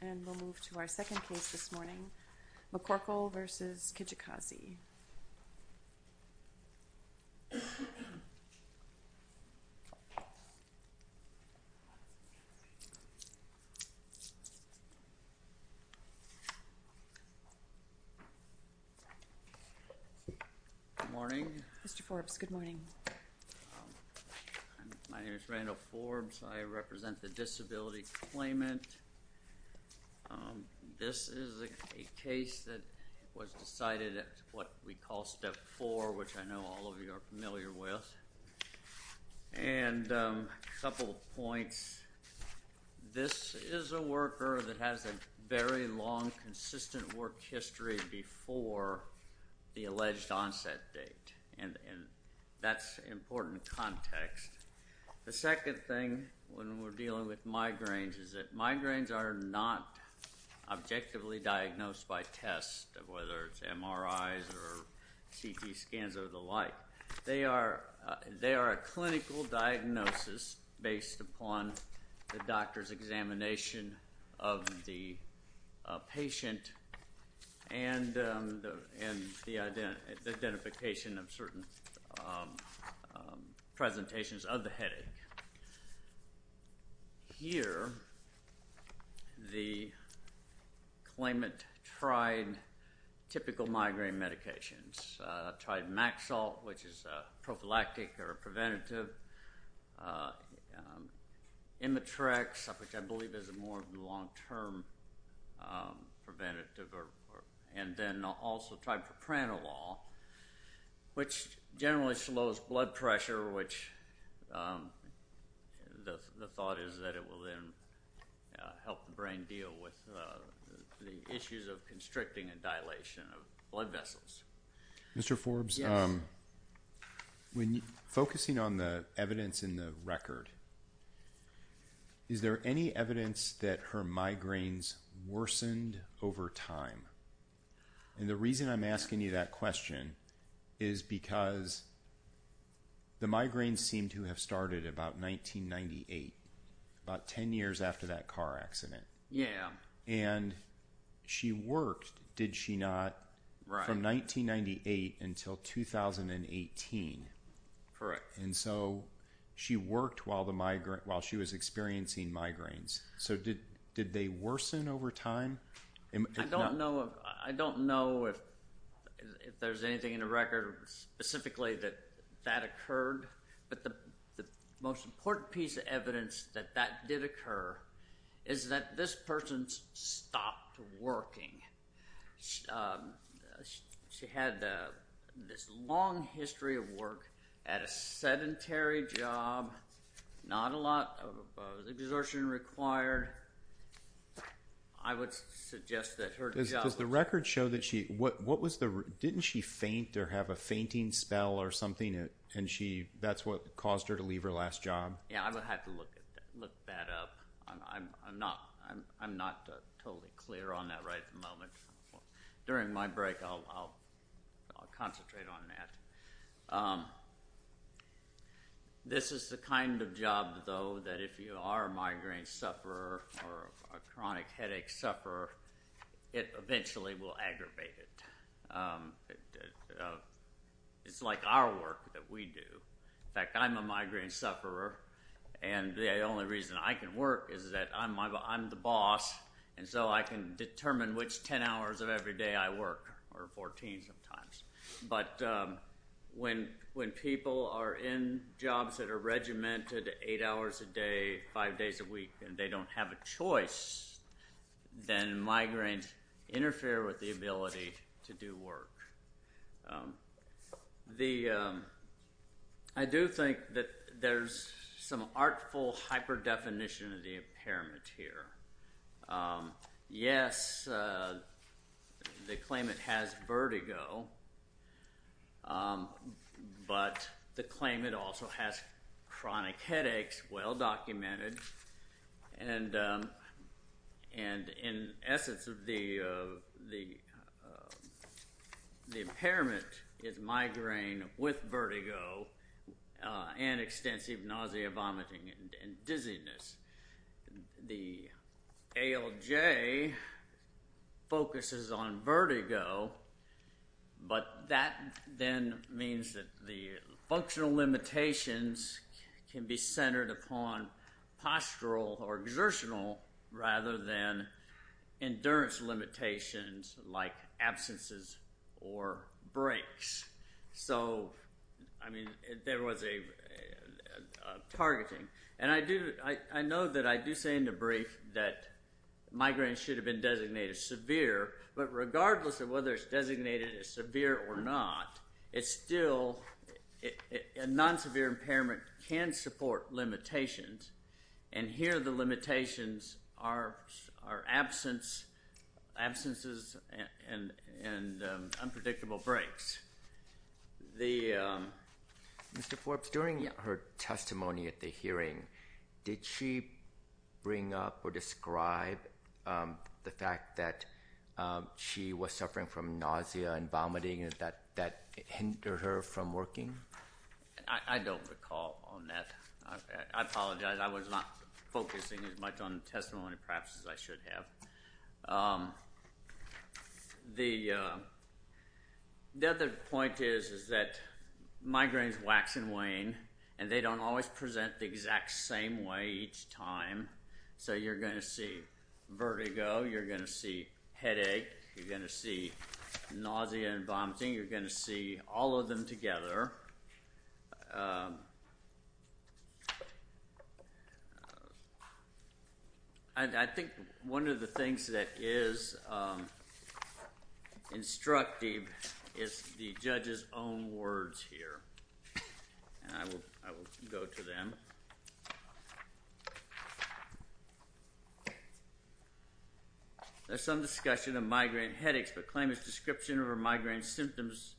And we'll move to our second case this morning, McCorkle v. Kijakazi. Good morning. Mr. Forbes, good morning. My name is Randall Forbes. I represent the Disability Claimant. This is a case that was decided at what we call Step 4, which I know all of you are familiar with. And a couple of points. This is a worker that has a very long, consistent work history before the alleged onset date. And that's important context. The second thing when we're dealing with migraines is that migraines are not objectively diagnosed by test, whether it's MRIs or CT scans or the like. They are a clinical diagnosis based upon the doctor's examination of the patient and the identification of certain presentations of the headache. Here, the claimant tried typical migraine medications. Tried Maxalt, which is prophylactic or preventative. Imitrex, which I believe is more of a long-term preventative. And then also tried Propranolol, which generally slows blood pressure, which the thought is that it will then help the brain deal with the issues of constricting and dilation of blood vessels. Mr. Forbes, focusing on the evidence in the record, is there any evidence that her migraines worsened over time? And the reason I'm asking you that question is because the migraines seemed to have started about 1998, about 10 years after that car accident. And she worked, did she not, from 1998 until 2018. And so she worked while she was experiencing migraines. So did they worsen over time? I don't know if there's anything in the record specifically that that occurred. But the most important piece of evidence that that did occur is that this person stopped working. She had this long history of work at a sedentary job, not a lot of exertion required. I would suggest that her job... Does the record show that she, what was the, didn't she faint or have a fainting spell or something? And that's what caused her to leave her last job? Yeah, I would have to look that up. I'm not totally clear on that right at the moment. During my break I'll concentrate on that. This is the kind of job, though, that if you are a migraine sufferer or a chronic headache sufferer, it eventually will aggravate it. It's like our work that we do. In fact, I'm a migraine sufferer, and the only reason I can work is that I'm the boss, and so I can determine which 10 hours of every day I work, or 14 sometimes. But when people are in jobs that are regimented eight hours a day, five days a week, and they don't have a choice, then migraines interfere with the ability to do work. I do think that there's some artful hyper-definition of the impairment here. Yes, they claim it has vertigo, but they claim it also has chronic headaches, well documented. And in essence, the impairment is migraine with vertigo and extensive nausea, vomiting, and dizziness. The ALJ focuses on vertigo, but that then means that the functional limitations can be centered upon postural or exertional rather than endurance limitations like absences or breaks. So, I mean, there was a targeting. And I know that I do say in the brief that migraines should have been designated severe, but regardless of whether it's designated as severe or not, a non-severe impairment can support limitations, and here the limitations are absences and unpredictable breaks. Mr. Forbes, during her testimony at the hearing, did she bring up or describe the fact that she was suffering from nausea and vomiting that hindered her from working? I don't recall on that. I apologize. I was not focusing as much on testimony perhaps as I should have. The other point is that migraines wax and wane, and they don't always present the exact same way each time. So you're going to see vertigo, you're going to see headache, you're going to see nausea and vomiting, you're going to see all of them together. However, I think one of the things that is instructive is the judge's own words here, and I will go to them. There's some discussion of migraine headaches, but claim his description of her migraine symptoms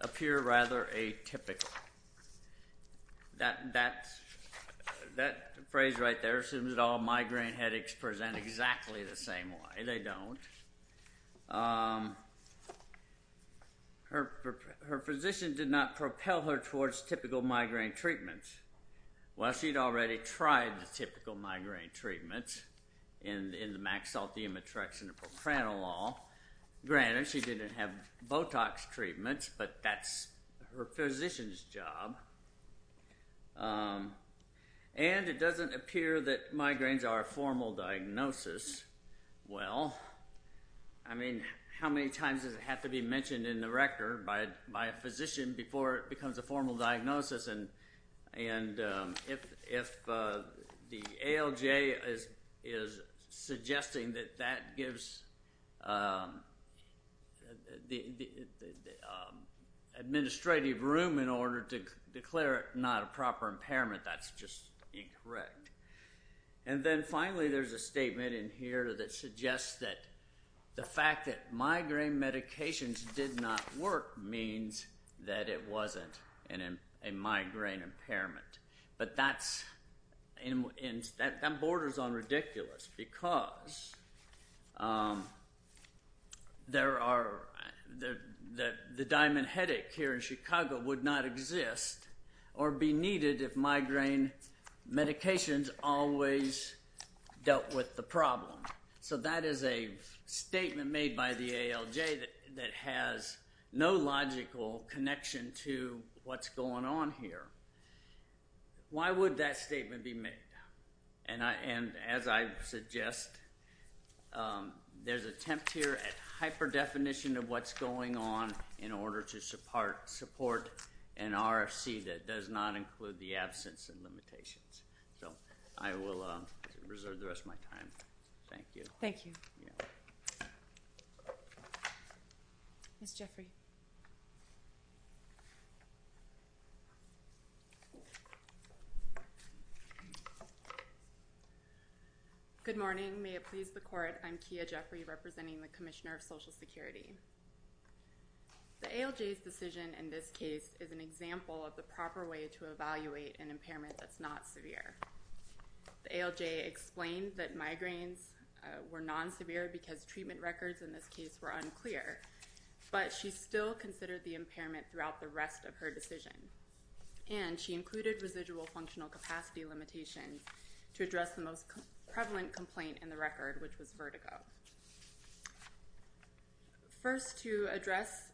appear rather atypical. That phrase right there assumes that all migraine headaches present exactly the same way. They don't. Her physician did not propel her towards typical migraine treatment. She'd already tried the typical migraine treatment in the maxillotium atrexin and propranolol. Granted, she didn't have Botox treatments, but that's her physician's job. And it doesn't appear that migraines are a formal diagnosis. Well, I mean, how many times does it have to be mentioned in the record by a physician before it becomes a formal diagnosis? And if the ALJ is suggesting that that gives the administrative room in order to declare it not a proper impairment, that's just incorrect. And then finally, there's a statement in here that suggests that the fact that migraine medications did not work means that it wasn't. It's not a migraine impairment. But that borders on ridiculous because the diamond headache here in Chicago would not exist or be needed if migraine medications always dealt with the problem. So that is a statement made by the ALJ that has no logical connection to what's going on here. Why would that statement be made? And as I suggest, there's attempt here at hyper-definition of what's going on in order to support an RFC that does not include the absence of limitations. So I will reserve the rest of my time. Thank you. Thank you. Ms. Jeffrey. Good morning. May it please the court, I'm Kia Jeffrey, representing the Commissioner of Social Security. The ALJ's decision in this case is an example of the proper way to evaluate an impairment that's not severe. The ALJ explained that migraines were non-severe because treatment records in this case were unclear, but she still considered the impairment throughout the rest of her decision. And she included residual functional capacity limitations to address the most prevalent complaint in the record, which was vertigo. First to address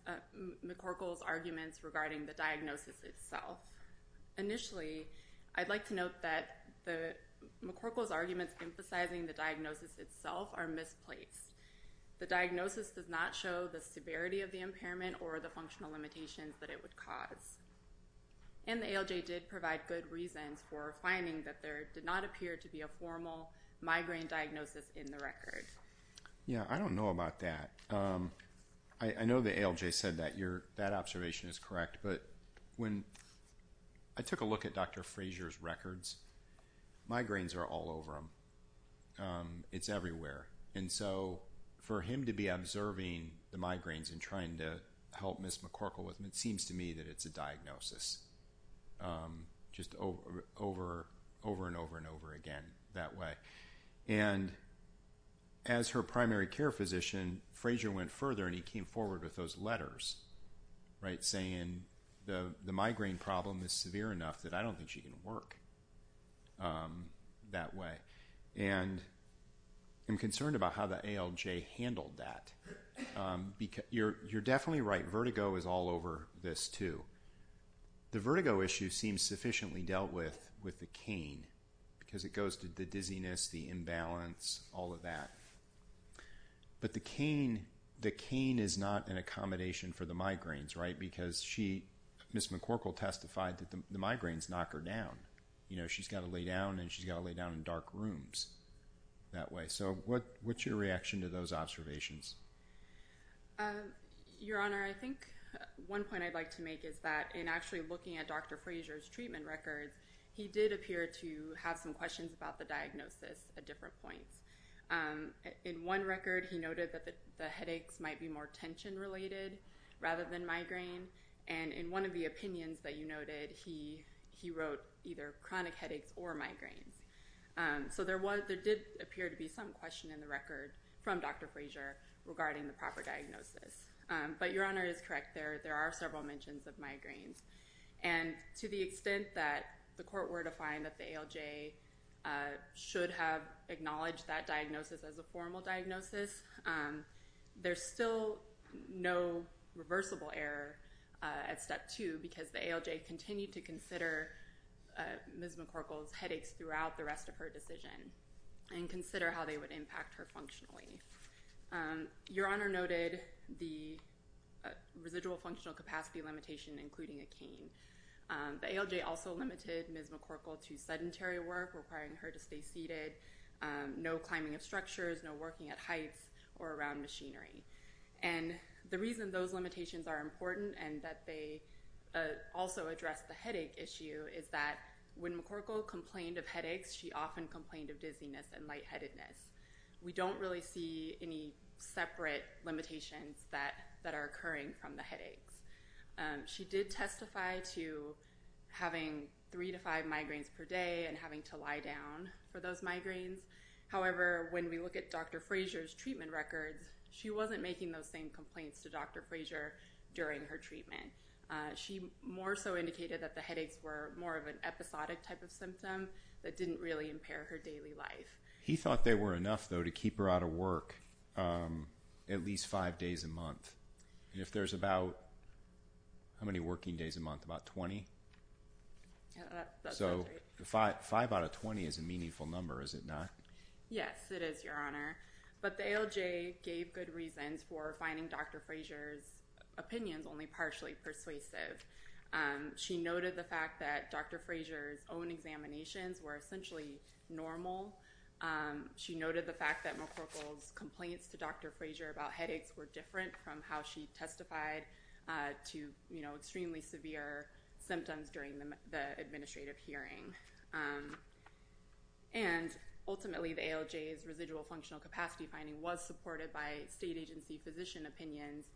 McCorkle's arguments regarding the diagnosis itself. Initially, I'd like to note that McCorkle's arguments emphasizing the diagnosis itself are misplaced. The diagnosis does not show the severity of the impairment or the functional limitations that it would cause. And the ALJ did provide good reasons for finding that there did not appear to be a formal migraine diagnosis in the record. Yeah, I don't know about that. I know the ALJ said that observation is correct, but when I took a look at Dr. Fraser's records, migraines are all over him. It's everywhere. And so for him to be observing the migraines and trying to help Ms. McCorkle with them, it seems to me that it's a diagnosis. Just over and over and over again that way. And as her primary care physician, Fraser went further and he came forward with those letters, right? Saying the migraine problem is severe enough that I don't think she can work that way. And I'm concerned about how the ALJ handled that. You're definitely right, vertigo is all over this too. The vertigo issue seems sufficiently dealt with with the cane because it goes to the dizziness, the imbalance, all of that. But the cane is not an accommodation for the migraines, right? Because Ms. McCorkle testified that the migraines knock her down. She's got to lay down and she's got to lay down in dark rooms that way. So what's your reaction to those observations? Your Honor, I think one point I'd like to make is that in actually looking at Dr. Fraser's treatment records, he did appear to have some questions about the diagnosis at different points. In one record, he noted that the headaches might be more tension related rather than migraine. And in one of the opinions that you noted, he wrote either chronic headaches or migraines. So there did appear to be some question in the record from Dr. Fraser regarding the proper diagnosis. But Your Honor is correct, there are several mentions of migraines. And to the extent that the court were to find that the ALJ should have acknowledged that diagnosis as a formal diagnosis, there's still no reversible error at step two because the ALJ continued to consider Ms. McCorkle's headaches throughout the rest of her decision and consider how they would impact her functionally. Your Honor noted the residual functional capacity limitation including a cane. The ALJ also limited Ms. McCorkle to sedentary work requiring her to stay seated, no climbing of structures, no working at heights or around machinery. And the reason those limitations are important and that they also address the headache issue is that when McCorkle complained of headaches, she often complained of dizziness and lightheadedness. We don't really see any separate limitations that are occurring from the headaches. She did testify to having three to five migraines per day and having to lie down for those migraines. However, when we look at Dr. Fraser's treatment records, she wasn't making those same complaints to Dr. Fraser during her treatment. She more so indicated that the headaches were more of an episodic type of symptom that didn't really impair her daily life. He thought they were enough, though, to keep her out of work at least five days a month. And if there's about how many working days a month? About 20? So five out of 20 is a meaningful number, is it not? Yes, it is, Your Honor. But the ALJ gave good reasons for finding Dr. Fraser's opinions only partially persuasive. She noted the fact that Dr. Fraser's own examinations were essentially normal and she noted the fact that McCorkle's complaints to Dr. Fraser about headaches were different from how she testified to extremely severe symptoms during the administrative hearing. And ultimately, the ALJ's residual functional capacity finding was supported by state agency physician opinions,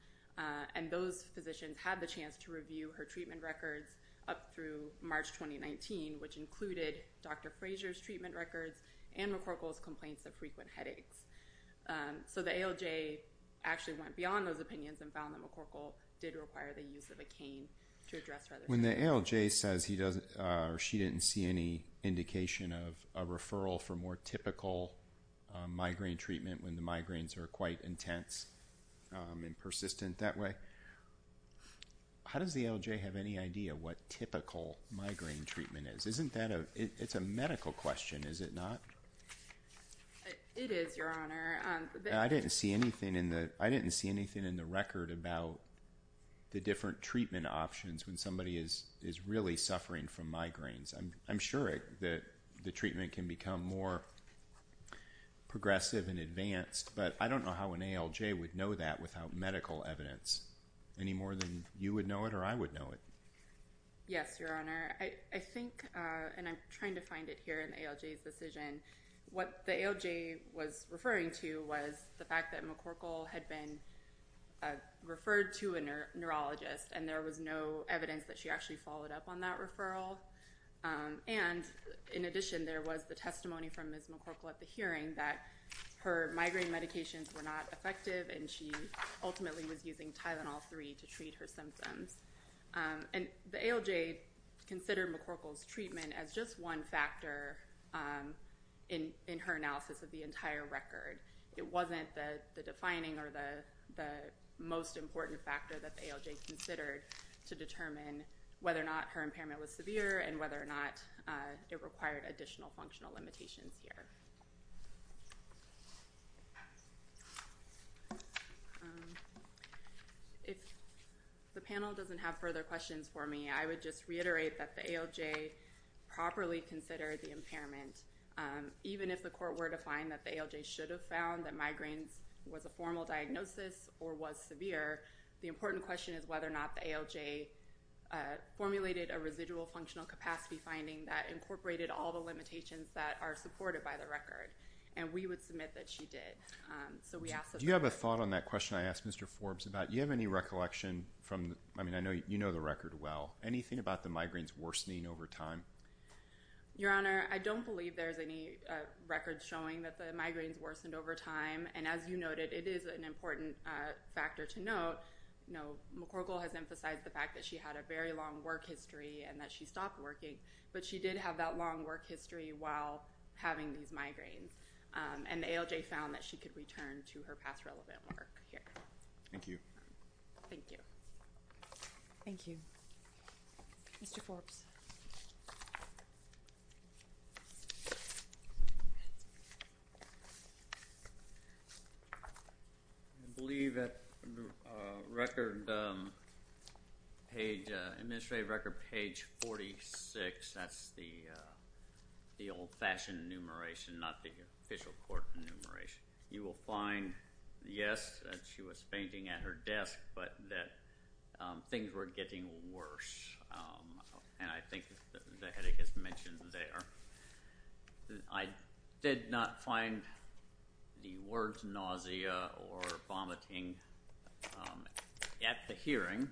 and those physicians had the chance to review her treatment records up through March 2019, which included Dr. Fraser's treatment records and McCorkle's complaints of frequent headaches. So the ALJ actually went beyond those opinions and found that McCorkle did require the use of a cane to address rather severe symptoms. When the ALJ says she didn't see any indication of a referral for more typical migraine treatment when the migraines are quite intense and persistent that way, how does the ALJ have any idea what typical migraine treatment is? It's a medical question, is it not? It is, Your Honor. I didn't see anything in the record about the different treatment options when somebody is really suffering from migraines. I'm sure that the treatment can become more progressive and advanced, but I don't know how an ALJ would know that without medical evidence, any more than you would know it or I would know it. Yes, Your Honor. I think, and I'm trying to find it here in the ALJ's decision, what the ALJ was referring to was the fact that McCorkle had been referred to a neurologist and there was no evidence that she actually followed up on that referral. And in addition, there was the testimony from Ms. McCorkle at the hearing that her migraine medications were not effective and she ultimately was using Tylenol-3 to treat her symptoms. And the ALJ considered McCorkle's treatment as just one factor in her analysis of the entire record. It wasn't the defining or the most important factor that the ALJ considered to determine whether or not her impairment was severe and whether or not it required additional functional limitations here. Thank you. If the panel doesn't have further questions for me, I would just reiterate that the ALJ properly considered the impairment. Even if the court were to find that the ALJ should have found that migraine was a formal diagnosis or was severe, the important question is whether or not the ALJ formulated a residual functional capacity finding that incorporated all the limitations that are supported by the record. And we would submit that she did. Do you have a thought on that question I asked Mr. Forbes about? Do you have any recollection? I mean, I know you know the record well. Anything about the migraines worsening over time? Your Honor, I don't believe there's any record showing that the migraines worsened over time. And as you noted, it is an important factor to note. McCorkle has emphasized the fact that she had a very long work history and that she stopped working. But she did have that long work history while having these migraines. And the ALJ found that she could return to her past relevant work here. Thank you. Thank you. Thank you. Mr. Forbes. I believe that record page, administrative record page 46, that's the old fashioned enumeration, not the official court enumeration. You will find, yes, that she was fainting at her desk, but that things were getting worse. And I think the headache is mentioned there. I did not find the words nausea or vomiting at the hearing.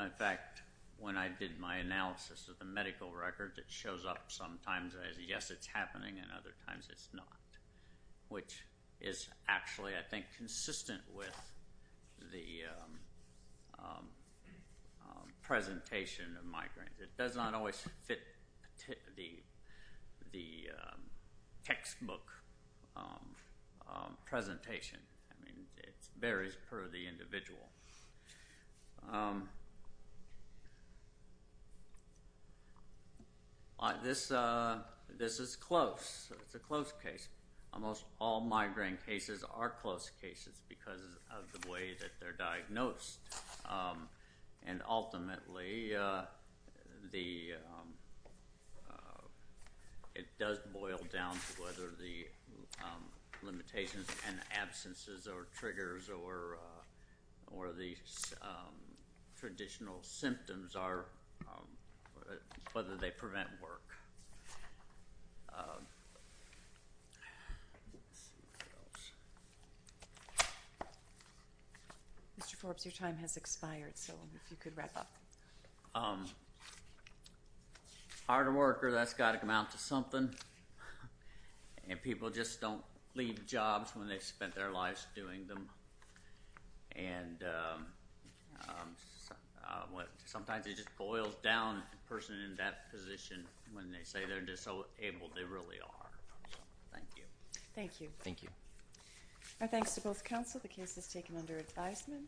In fact, when I did my analysis of the medical record, it shows up sometimes as yes, it's happening, and other times it's not, which is actually, I think, consistent with the presentation of migraines. It does not always fit the textbook presentation. I mean, it varies per the individual. This is close. It's a close case. Almost all migraine cases are close cases because of the way that they're diagnosed. And ultimately, it does boil down to whether the limitations and absences or triggers or the traditional symptoms are, whether they prevent work. Mr. Forbes, your time has expired, so if you could wrap up. Hard worker, that's got to amount to something. And people just don't leave jobs when they've spent their lives doing them. And sometimes it just boils down the person in that position when they say they're disabled. They really are. Thank you. Our thanks to both counsel. The case is taken under advisement.